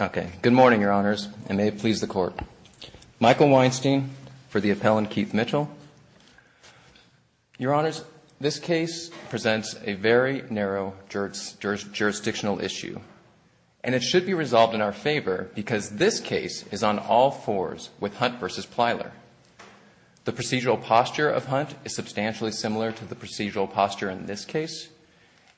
Okay, good morning, Your Honors, and may it please the Court. Michael Weinstein for the appellant, Keith Mitchell. Your Honors, this case presents a very narrow jurisdictional issue, and it should be resolved in our favor because this case is on all fours with Hunt v. Plyler. The procedural posture of Hunt is substantially similar to the procedural posture in this case,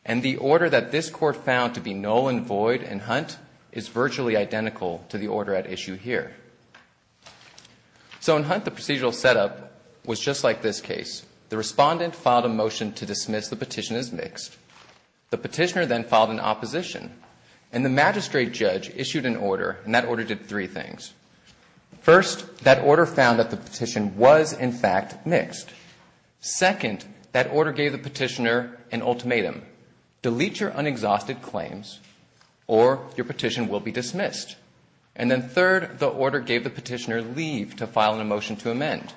and the order that this Court found to be null and void in Hunt is virtually identical to the order at issue here. So in Hunt, the procedural setup was just like this case. The respondent filed a motion to dismiss the petition as mixed. The petitioner then filed an opposition, and the magistrate judge issued an order, and that order did three things. First, second, that order gave the petitioner an ultimatum. Delete your unexhausted claims, or your petition will be dismissed. And then third, the order gave the petitioner leave to file a motion to amend.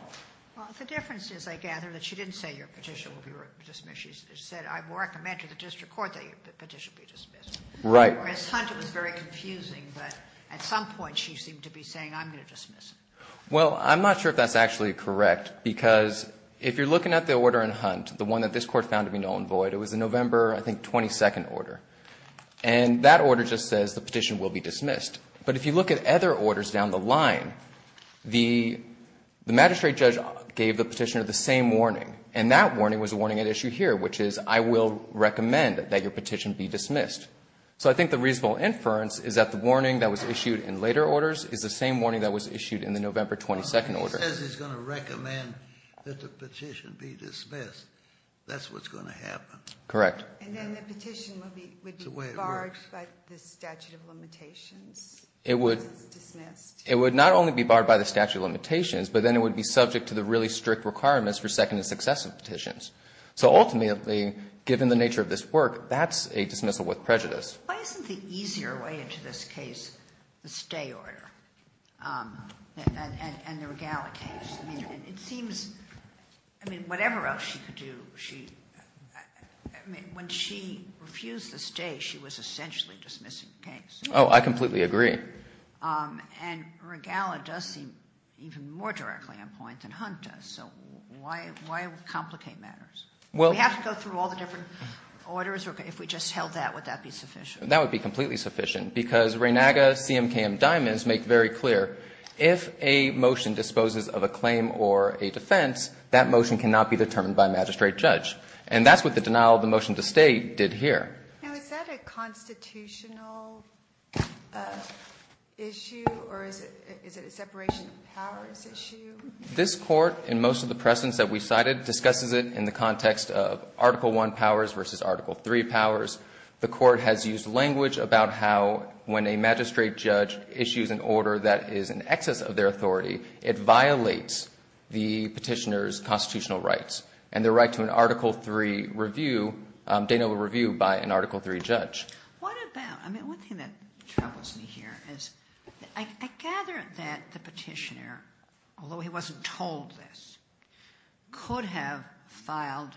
Well, the difference is, I gather, that she didn't say your petition will be dismissed. She said, I recommend to the district court that your petition be dismissed. Right. Whereas Hunt, it was very confusing, but at some point she seemed to be saying, I'm going to dismiss. Well, I'm not sure if that's actually correct, because if you're looking at the order in Hunt, the one that this Court found to be null and void, it was a November, I think, 22nd order. And that order just says the petition will be dismissed. But if you look at other orders down the line, the magistrate judge gave the petitioner the same warning, and that warning was the warning at issue here, which is, I will recommend that your petition be dismissed. So I think the reasonable inference is that the warning that was issued in later orders is the same warning that was issued in the November 22nd order. Well, he says he's going to recommend that the petition be dismissed. That's what's going to happen. Correct. And then the petition would be barred by the statute of limitations because it's dismissed. It would not only be barred by the statute of limitations, but then it would be subject to the really strict requirements for second and successive petitions. So ultimately, given the nature of this work, that's a dismissal with prejudice. Why isn't the easier way into this case the stay order and the Regala case? I mean, it seems, I mean, whatever else she could do, she, I mean, when she refused the stay, she was essentially dismissing the case. Oh, I completely agree. And Regala does seem even more directly on point than Hunt does. So why, why complicate matters? We have to go through all the different orders, or if we just held that, would that be sufficient? That would be completely sufficient because Reynaga, CMKM, and Diamonds make very clear if a motion disposes of a claim or a defense, that motion cannot be determined by a magistrate judge. And that's what the denial of the motion to stay did here. Now, is that a constitutional issue, or is it a separation of powers issue? This Court, in most of the precedents that we cited, discusses it in the context of Article I powers versus Article III powers. The Court has used language about how, when a magistrate judge issues an order that is in excess of their authority, it violates the petitioner's constitutional rights and their right to an Article III review, denial of review by an Article III judge. What about, I mean, one thing that troubles me here is I gather that the petitioner, although he wasn't told this, could have filed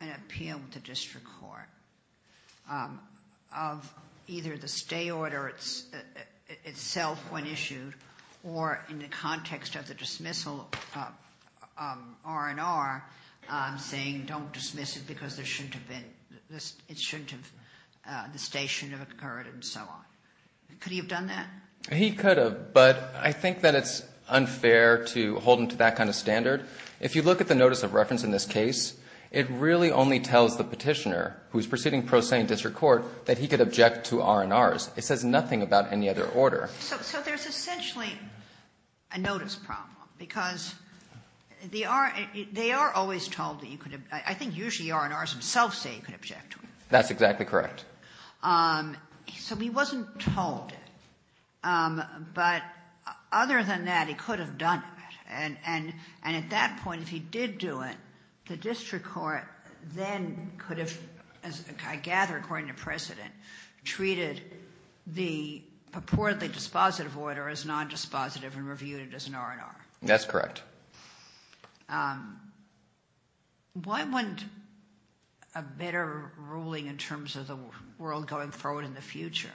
an appeal to district court of either the stay order itself when issued, or in the context of the dismissal, R&R, saying don't dismiss it because it shouldn't have, the stay shouldn't have occurred, and so on. Could he have done that? He could have, but I think that it's unfair to hold him to that kind of standard. If you look at the notice of reference in this case, it really only tells the petitioner, who is proceeding pro se in district court, that he could object to R&Rs. It says nothing about any other order. So there's essentially a notice problem, because they are always told that you could object, I think usually R&Rs themselves say you could object to it. That's exactly correct. So he wasn't told, but other than that, he could have done it, and at that point, if he did do it, the district court then could have, I gather according to precedent, treated the purportedly dispositive order as nondispositive and reviewed it as an R&R. That's correct. Why wouldn't a better ruling in terms of the world going forward in the future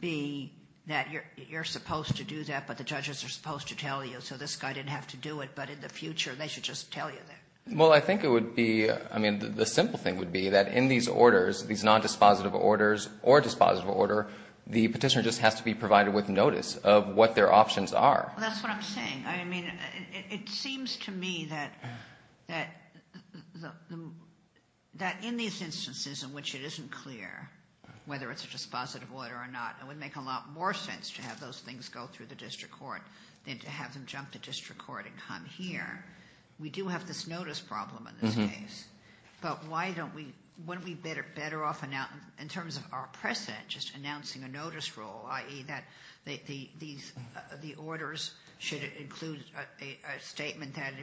be that you're supposed to do that, but the judges are supposed to tell you, so this guy didn't have to do it, but in the future, they should just tell you that? Well, I think it would be, I mean, the simple thing would be that in these orders, these nondispositive orders or dispositive order, the petitioner just has to be provided with notice of what their options are. Well, that's what I'm saying. I mean, it seems to me that in these instances in which it isn't clear whether it's a dispositive order or not, it would make a lot more sense to have those things go through the district court than to have them jump the district court and come here. We do have this notice problem in this case, but why don't we, wouldn't we better off in terms of our precedent, just announcing a notice rule, i.e. that the orders should include a statement that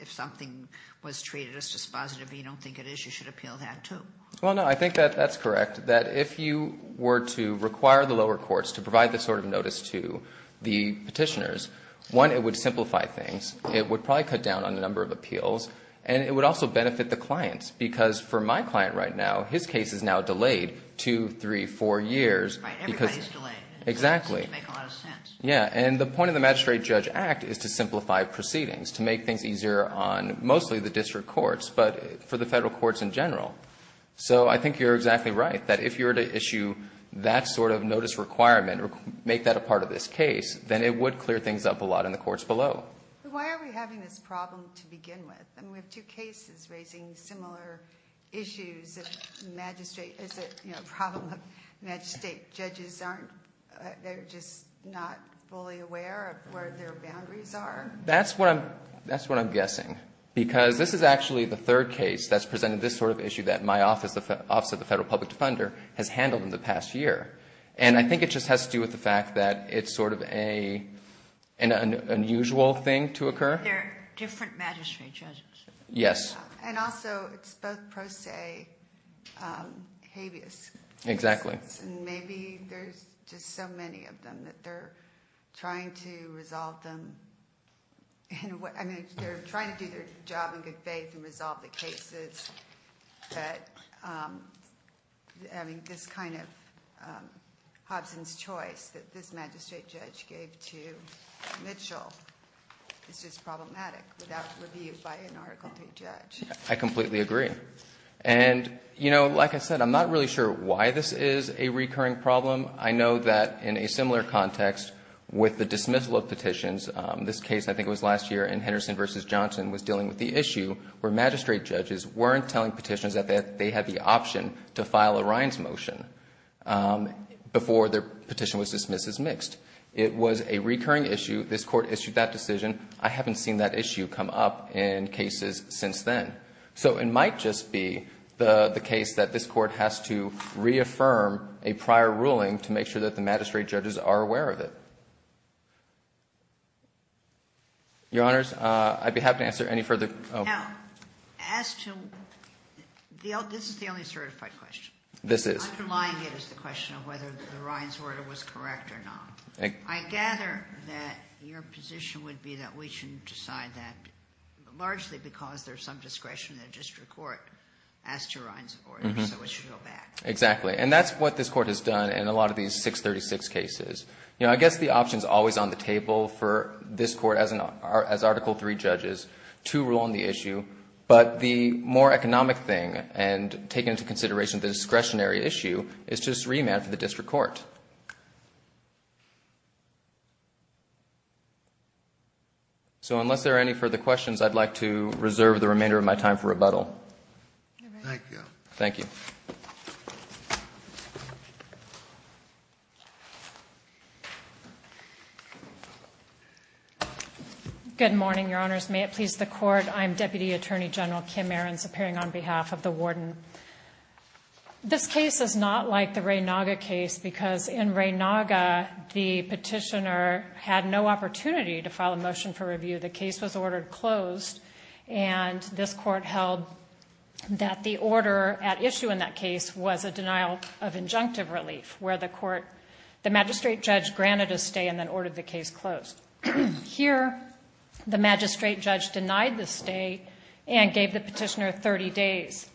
if something was treated as dispositive, you don't think it is, you should appeal that too? Well, no. I think that that's correct, that if you were to require the lower courts to provide this sort of notice to the petitioners, one, it would simplify things. It would probably cut down on the number of appeals, and it would also benefit the clients because for my client right now, his case is now delayed two, three, four years. Right, everybody's delayed. Exactly. It doesn't make a lot of sense. Yeah, and the point of the Magistrate-Judge Act is to simplify proceedings, to make things easier on mostly the district courts, but for the federal courts in general. So I think you're exactly right, that if you were to issue that sort of notice requirement or make that a part of this case, then it would clear things up a lot in the courts below. Why are we having this problem to begin with? I mean, we have two cases raising similar issues of Magistrate... it's a problem of Magistrate. Judges aren't... they're just not fully aware of where their boundaries are? That's what I'm guessing because this is actually the third case that's presented this sort of issue that my office, the Office of the Federal Public Defender, has handled in the past year, and I think it just has to do with the fact that it's sort of an unusual thing to occur. They're different Magistrate judges. Yes. And also, it's both pro se habeas... Exactly. And maybe there's just so many of them that they're trying to resolve them... I mean, they're trying to do their job in good faith and resolve the cases, but having this kind of Hobson's choice that this Magistrate judge gave to Mitchell is just problematic without review by an Article III judge. I completely agree. And, you know, like I said, I'm not really sure why this is a recurring problem. I know that in a similar context with the dismissal of petitions, this case, I think it was last year in Henderson v. Johnson, was dealing with the issue where Magistrate judges weren't telling petitions that they had the option to file a Ryan's motion before their petition was dismissed as mixed. It was a recurring issue. This Court issued that decision. I haven't seen that issue come up in cases since then. So it might just be the case that this Court has to reaffirm a prior ruling to make sure that the Magistrate judges are aware of it. Your Honors, I'd be happy to answer any further... Now, as to... this is the only certified question. This is. Underlying it is the question of whether the Ryan's order was correct or not. I gather that your position would be that we should decide that largely because there is some discretion in the district court as to Ryan's order, so it should go back. Exactly. And that's what this Court has done in a lot of these 636 cases. You know, I guess the option is always on the table for this Court as Article III judges to rule on the issue, but the more economic thing and taking into consideration the discretionary issue is just remand for the district court. So unless there are any further questions, I'd like to reserve the remainder of my time for rebuttal. Thank you. Thank you. Good morning, Your Honors. May it please the Court, I'm Deputy Attorney General Kim Ahrens, appearing on behalf of the Warden. This case is not like the Ray Naga case because in Ray Naga, the petitioner had no opportunity to file a motion for review. The case was ordered closed, and this Court held that the order at issue in that case was a denial of injunctive relief where the court, the magistrate judge granted a stay and then ordered the case closed. Here, the magistrate judge denied the stay and gave the petitioner 30 days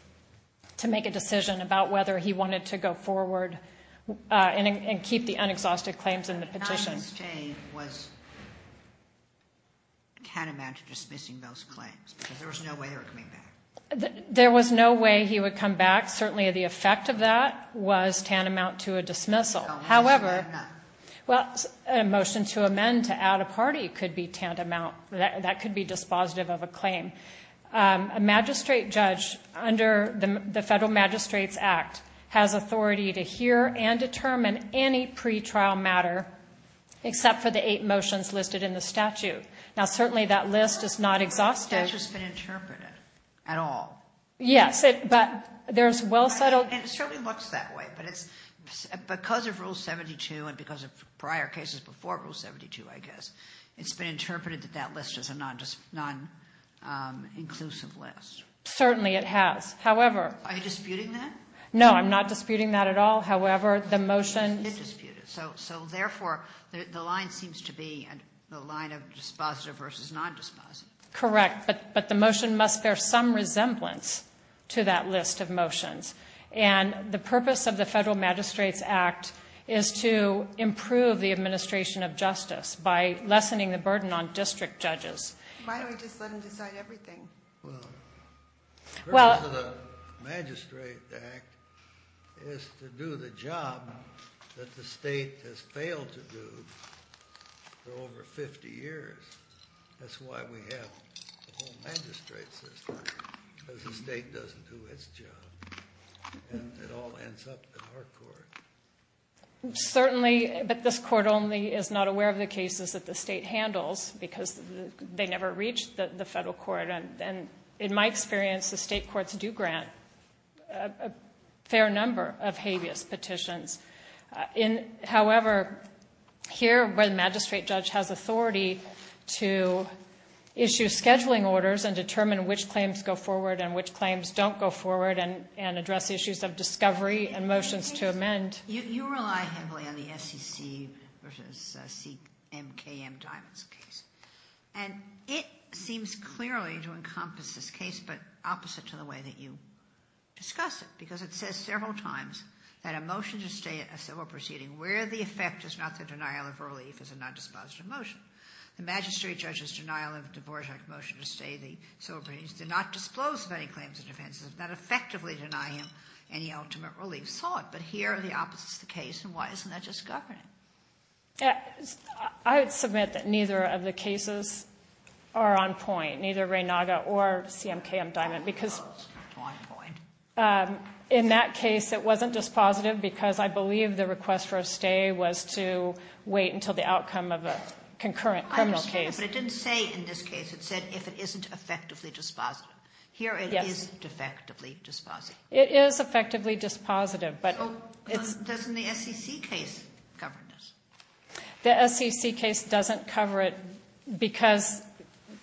to make a decision about whether he wanted to go forward and keep the unexhausted claims in the petition. The amount of stay was tantamount to dismissing those claims because there was no way they were coming back. There was no way he would come back. Certainly, the effect of that was tantamount to a dismissal. However, a motion to amend to add a party could be tantamount. That could be dispositive of a claim. A magistrate judge under the Federal Magistrates Act has authority to hear and determine any pretrial matter except for the eight motions listed in the statute. Now, certainly, that list is not exhaustive. It's not just been interpreted at all. Yes, but there's well-settled... It certainly looks that way, but it's because of Rule 72 and because of prior cases before Rule 72, I guess, it's been interpreted that that list is a non-inclusive list. Certainly, it has. However... Are you disputing that? No, I'm not disputing that at all. However, the motion... It's disputed. So, therefore, the line seems to be the line of dispositive versus non-dispositive. Correct, but the motion must bear some resemblance to that list of motions. And the purpose of the Federal Magistrates Act is to improve the administration of justice by lessening the burden on district judges. Why don't we just let them decide everything? Well, the purpose of the Magistrate Act is to do the job that the state has failed to do for over 50 years. That's why we have a whole magistrate system, because the state doesn't do its job. And it all ends up in our court. Certainly, but this Court only is not aware of the cases that the state handles, because they never reach the Federal Court. And in my experience, the state courts do grant a fair number of habeas petitions. However, here, where the magistrate judge has authority to issue scheduling orders and determine which claims go forward and which claims don't go forward and address issues of discovery and motions to amend... You rely heavily on the SEC versus CMKM-Diamonds case. And it seems clearly to encompass this case, but opposite to the way that you discuss it, because it says several times that a motion to stay a civil proceeding where the effect is not the denial of relief is a non-dispositive motion. The magistrate judge's denial of divorce motion to stay the civil proceedings did not disclose of any claims of defense. It did not effectively deny him any ultimate relief sought. But here, the opposite is the case, and why isn't that just governing? I would submit that neither of the cases are on point, neither Reynaga or CMKM-Diamonds, because in that case, it wasn't dispositive because I believe the request for a stay was to wait until the outcome of a concurrent criminal case. I understand, but it didn't say in this case, it said if it isn't effectively dispositive. Here, it is effectively dispositive. It is effectively dispositive, but it's... So, doesn't the SEC case cover this? The SEC case doesn't cover it because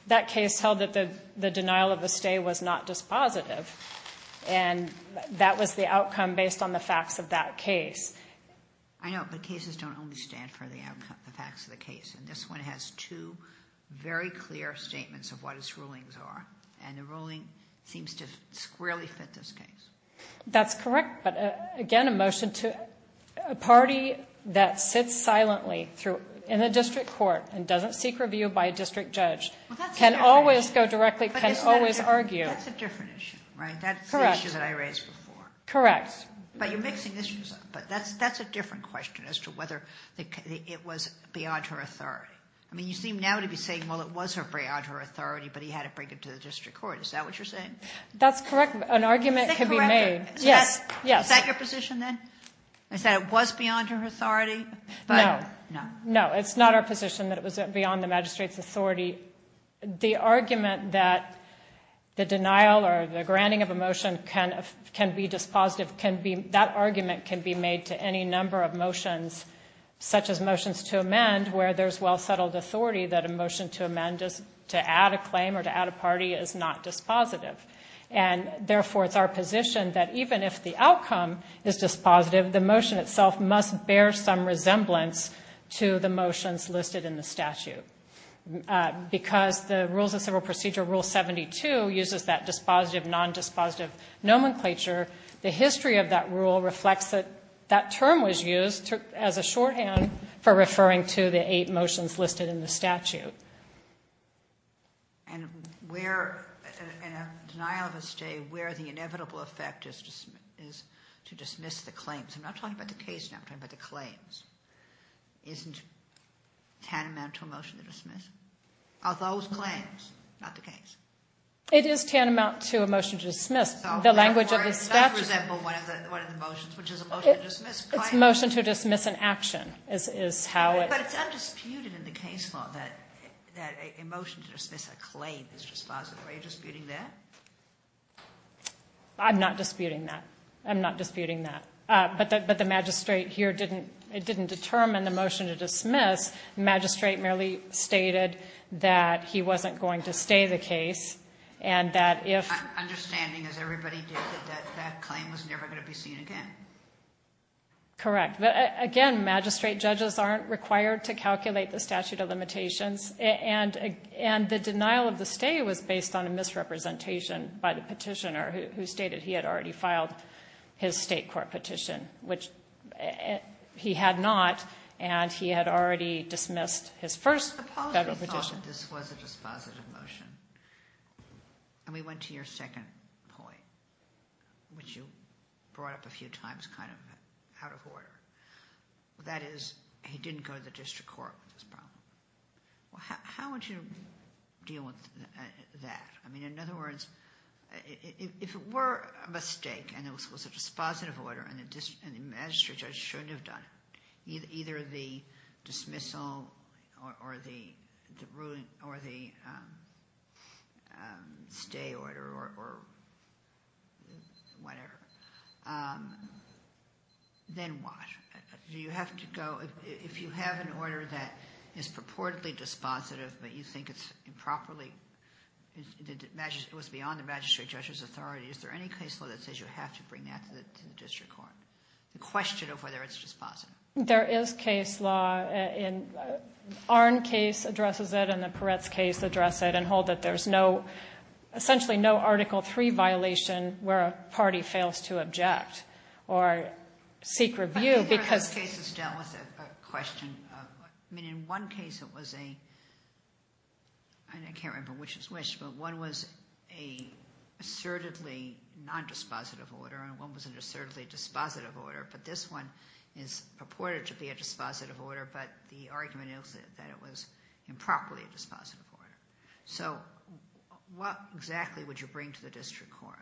that case held that the denial of a stay was not dispositive, and that was the outcome based on the facts of that case. I know, but cases don't only stand for the facts of the case, and this one has two very clear statements of what its rulings are, and the ruling seems to squarely fit this case. That's correct, but again, a motion to a party that sits silently in a district court and doesn't seek review by a district judge can always go directly, can always argue. That's a different issue, right? Correct. That's the issue that I raised before. Correct. But you're mixing issues up, but that's a different question as to whether it was beyond her authority. I mean, you seem now to be saying, well, it was beyond her authority, but he had to bring it to the district court. Is that what you're saying? That's correct. An argument can be made. Is that correct? Yes, yes. Is that your position then? Is that it was beyond her authority? No, no. No, it's not our position that it was beyond the magistrate's authority. The argument that the denial or the granting of a motion can be dispositive, that argument can be made to any number of motions, such as motions to amend, where there's well-settled authority that a motion to amend is to add a claim or to add a party is not dispositive. And, therefore, it's our position that even if the outcome is dispositive, the motion itself must bear some resemblance to the motions listed in the statute. Because the Rules of Civil Procedure Rule 72 uses that dispositive, non-dispositive nomenclature, the history of that rule reflects that that term was used as a shorthand for referring to the eight motions listed in the statute. And where, in a denial of a stay, where the inevitable effect is to dismiss the claims. I'm not talking about the case now. I'm talking about the claims. Isn't tantamount to a motion to dismiss? Are those claims, not the case? It is tantamount to a motion to dismiss. The language of the statute. Not, for example, one of the motions, which is a motion to dismiss a claim. It's a motion to dismiss an action is how it. But it's undisputed in the case law that a motion to dismiss a claim is dispositive. Are you disputing that? I'm not disputing that. I'm not disputing that. But the magistrate here didn't determine the motion to dismiss. The magistrate merely stated that he wasn't going to stay the case and that if... I'm understanding, as everybody did, that that claim was never going to be seen again. Correct. But, again, magistrate judges aren't required to calculate the statute of limitations. And the denial of the stay was based on a misrepresentation by the petitioner who stated he had already filed his state court petition, which he had not. And he had already dismissed his first federal petition. This was a dispositive motion. And we went to your second point, which you brought up a few times kind of out of order. That is, he didn't go to the district court with this problem. How would you deal with that? I mean, in other words, if it were a mistake and it was a dispositive order and the magistrate judge shouldn't have done it, either the dismissal or the stay order or whatever, then what? Do you have to go—if you have an order that is purportedly dispositive but you think it's improperly—it was beyond the magistrate judge's authority, is there any case law that says you have to bring that to the district court? The question of whether it's dispositive. There is case law. The Arnn case addresses it, and the Peretz case addresses it, and hold that there's no—essentially no Article III violation where a party fails to object or seek review because— I think those cases dealt with a question of—I mean, in one case it was a—I can't remember which was which, but one was an assertedly nondispositive order and one was an assertedly dispositive order, but this one is purported to be a dispositive order, but the argument is that it was improperly a dispositive order. So what exactly would you bring to the district court?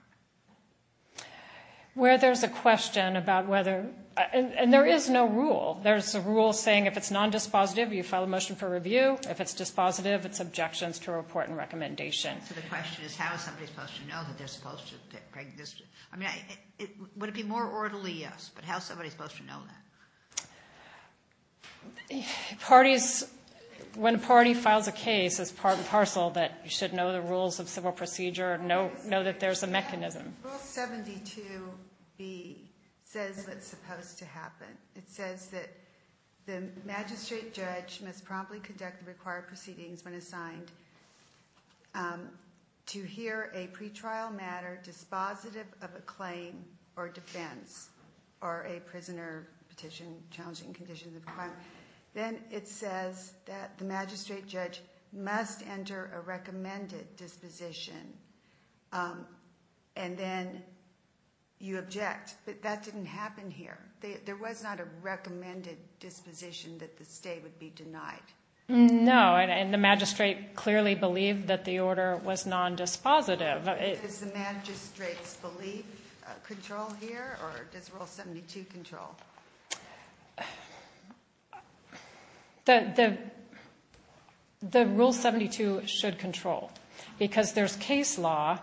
Where there's a question about whether—and there is no rule. There's a rule saying if it's nondispositive, you file a motion for review. If it's dispositive, it's objections to report and recommendation. So the question is how is somebody supposed to know that they're supposed to—I mean, would it be more orderly, yes, but how is somebody supposed to know that? Parties—when a party files a case, it's part and parcel that you should know the rules of civil procedure and know that there's a mechanism. It says that the magistrate judge must promptly conduct the required proceedings when assigned to hear a pretrial matter dispositive of a claim or defense or a prisoner petition challenging conditions of a crime. Then it says that the magistrate judge must enter a recommended disposition, and then you object, but that didn't happen here. There was not a recommended disposition that the stay would be denied. No, and the magistrate clearly believed that the order was nondispositive. Does the magistrate's belief control here, or does Rule 72 control? The Rule 72 should control because there's case law.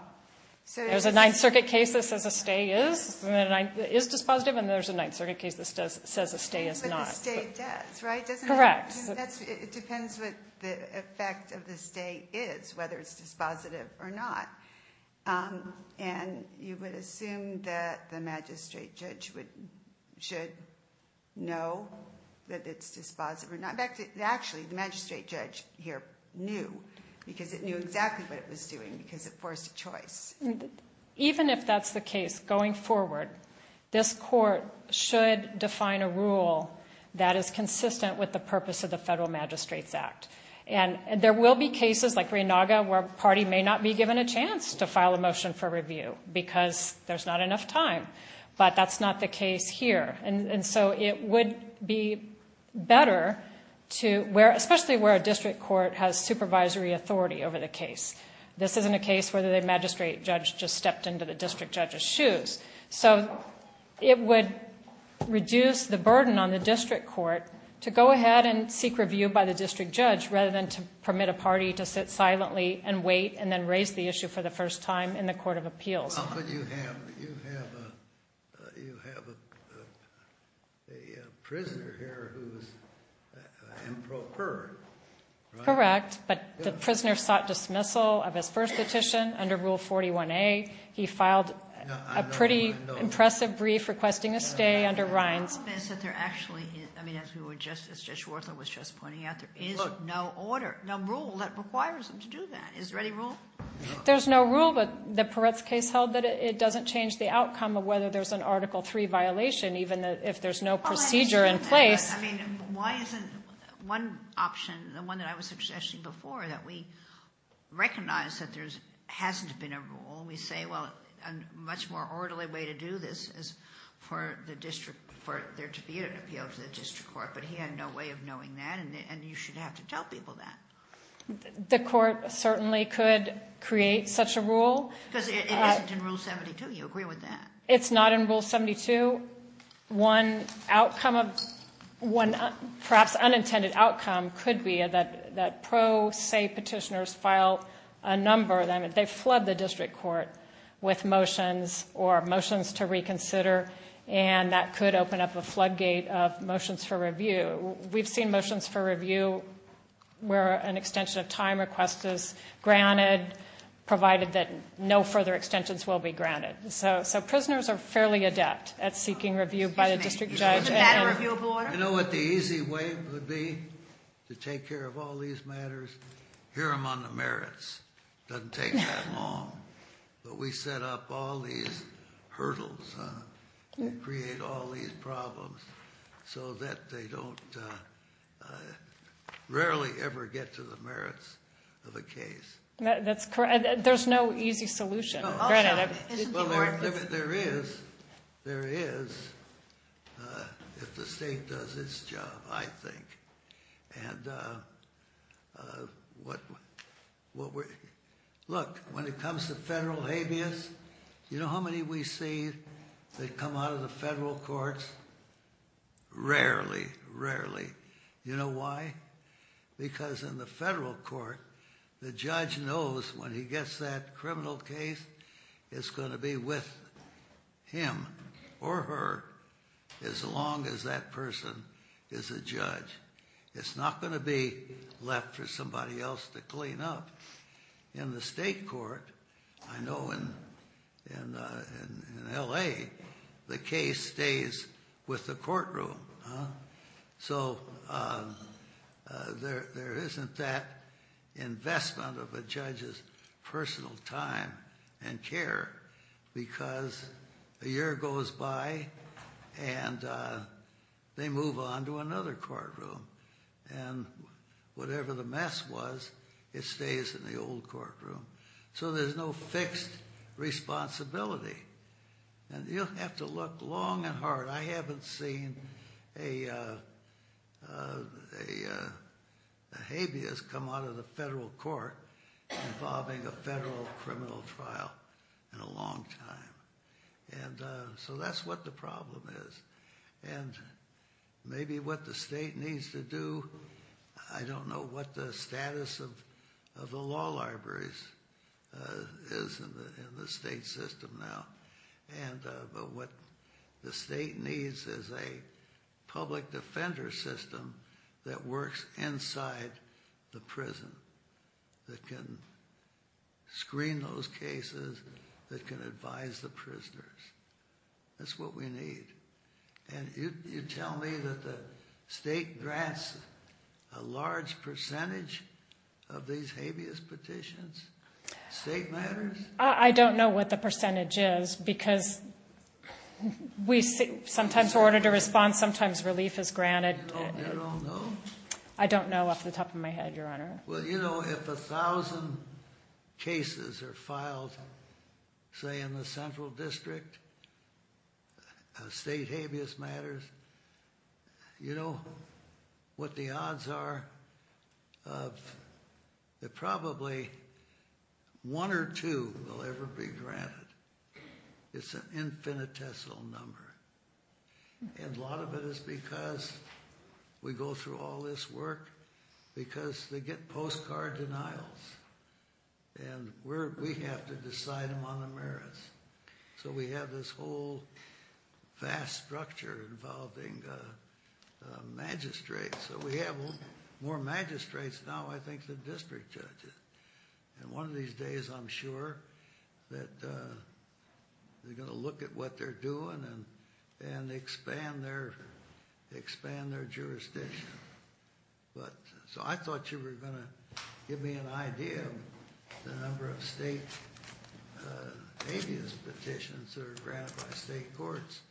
There's a Ninth Circuit case that says a stay is dispositive, and there's a Ninth Circuit case that says a stay is not. It depends what the stay does, right? Correct. It depends what the effect of the stay is, whether it's dispositive or not. And you would assume that the magistrate judge should know that it's dispositive or not. Actually, the magistrate judge here knew because it knew exactly what it was doing because it forced a choice. Even if that's the case going forward, this court should define a rule that is consistent with the purpose of the Federal Magistrates Act. And there will be cases like Raynaga where a party may not be given a chance to file a motion for review because there's not enough time, but that's not the case here. And so it would be better to, especially where a district court has supervisory authority over the case. This isn't a case where the magistrate judge just stepped into the district judge's shoes. So it would reduce the burden on the district court to go ahead and seek review by the district judge rather than to permit a party to sit silently and wait and then raise the issue for the first time in the Court of Appeals. Well, how could you have a prisoner here who's improprietary? Correct, but the prisoner sought dismissal of his first petition under Rule 41A. He filed a pretty impressive brief requesting a stay under Reins. There's no rule that requires him to do that. Is there any rule? There's no rule, but the Peretz case held that it doesn't change the outcome of whether there's an Article III violation, even if there's no procedure in place. I mean, why isn't one option, the one that I was suggesting before, that we recognize that there hasn't been a rule? We say, well, a much more orderly way to do this is for there to be an appeal to the district court. But he had no way of knowing that, and you should have to tell people that. The court certainly could create such a rule. Because it isn't in Rule 72. You agree with that? It's not in Rule 72. One outcome, perhaps unintended outcome, could be that pro se petitioners file a number, they flood the district court with motions or motions to reconsider, and that could open up a floodgate of motions for review. We've seen motions for review where an extension of time request is granted, provided that no further extensions will be granted. So, prisoners are fairly adept at seeking review by the district judge. You know what the easy way would be to take care of all these matters? Hear them on the merits. Doesn't take that long. But we set up all these hurdles, create all these problems, so that they don't rarely ever get to the merits of a case. That's correct. There's no easy solution. No, I'll stop. Isn't the court- There is, if the state does its job, I think. Look, when it comes to federal habeas, you know how many we see that come out of the federal courts? Rarely, rarely. You know why? Because in the federal court, the judge knows when he gets that criminal case, it's going to be with him or her as long as that person is a judge. It's not going to be left for somebody else to clean up. In the state court, I know in L.A., the case stays with the courtroom. So there isn't that investment of a judge's personal time and care, because a year goes by and they move on to another courtroom. And whatever the mess was, it stays in the old courtroom. So there's no fixed responsibility. And you'll have to look long and hard. But I haven't seen a habeas come out of the federal court involving a federal criminal trial in a long time. And so that's what the problem is. And maybe what the state needs to do, I don't know what the status of the law libraries is in the state system now. But what the state needs is a public defender system that works inside the prison, that can screen those cases, that can advise the prisoners. That's what we need. And you tell me that the state grants a large percentage of these habeas petitions? State matters? I don't know what the percentage is, because sometimes we're ordered to respond, sometimes relief is granted. You don't know? I don't know off the top of my head, Your Honor. Well, you know, if a thousand cases are filed, say, in the central district, state habeas matters, you know what the odds are that probably one or two will ever be granted. It's an infinitesimal number. And a lot of it is because we go through all this work, because they get postcard denials. And we have to decide them on the merits. So we have this whole vast structure involving magistrates. So we have more magistrates now, I think, than district judges. And one of these days, I'm sure, that they're going to look at what they're doing and expand their jurisdiction. So I thought you were going to give me an idea of the number of state habeas petitions that are granted by state courts,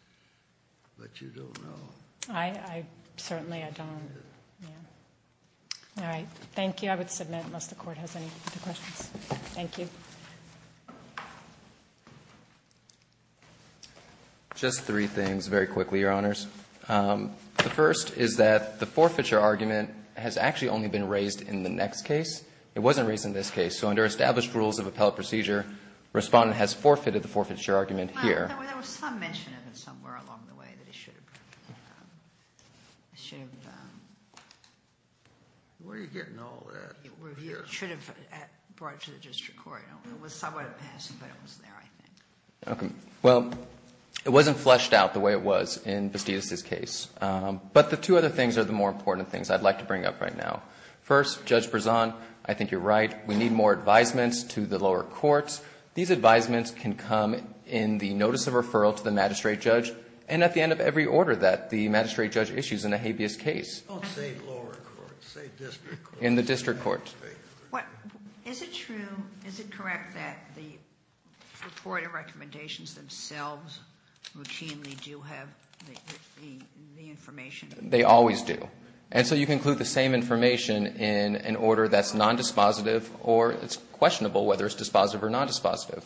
but you don't know. I certainly don't. All right. Thank you. I would submit, unless the Court has any other questions. Thank you. Just three things, very quickly, Your Honors. The first is that the forfeiture argument has actually only been raised in the next case. It wasn't raised in this case. So under established rules of appellate procedure, respondent has forfeited the forfeiture argument here. There was some mention of it somewhere along the way that it should have been. Where are you getting all that? It should have been brought to the district court. It was somewhat in passing, but it was there, I think. Well, it wasn't fleshed out the way it was in Bastidas' case. But the two other things are the more important things I'd like to bring up right now. First, Judge Berzon, I think you're right. We need more advisements to the lower courts. These advisements can come in the notice of referral to the magistrate judge and at the end of every order that the magistrate judge issues in a habeas case. In the district court. They always do. And so you can include the same information in an order that's nondispositive or it's questionable whether it's dispositive or nondispositive.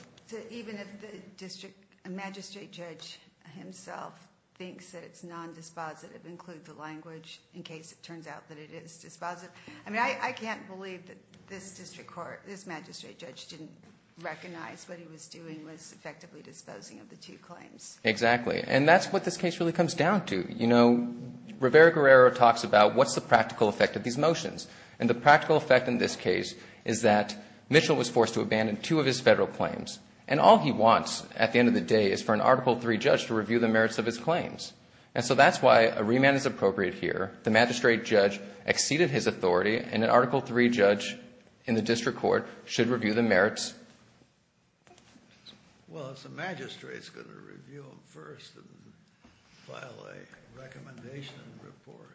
Exactly. And that's what this case really comes down to. Rivera-Guerrero talks about what's the practical effect of these motions. And the practical effect in this case is that Mitchell was forced to abandon two of his federal claims. And all he wants at the end of the day is for an Article III judge to review the merits of his claims. And so that's why a remand is appropriate here. The magistrate judge exceeded his authority and an Article III judge in the district court should review the merits. Well, it's the magistrate's going to review them first and file a recommendation report.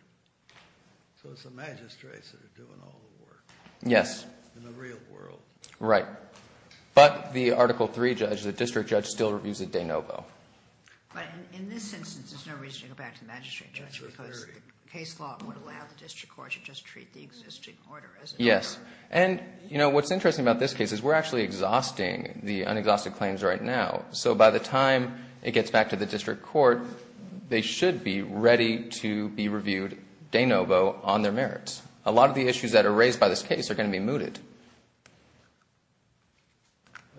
So it's the magistrates that are doing all the work. Yes. In the real world. Right. But the Article III judge, the district judge, still reviews it de novo. But in this instance, there's no reason to go back to the magistrate judge because the case law would allow the district court to just treat the existing order as an order. Yes. And, you know, what's interesting about this case is we're actually exhausting the unexhausted claims right now. So by the time it gets back to the district court, they should be ready to be reviewed de novo on their merits. A lot of the issues that are raised by this case are going to be mooted.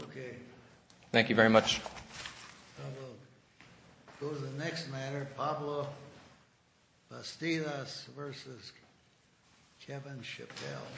Okay. Thank you very much. We'll go to the next matter, Pablo Bastidas v. Kevin Chappelle.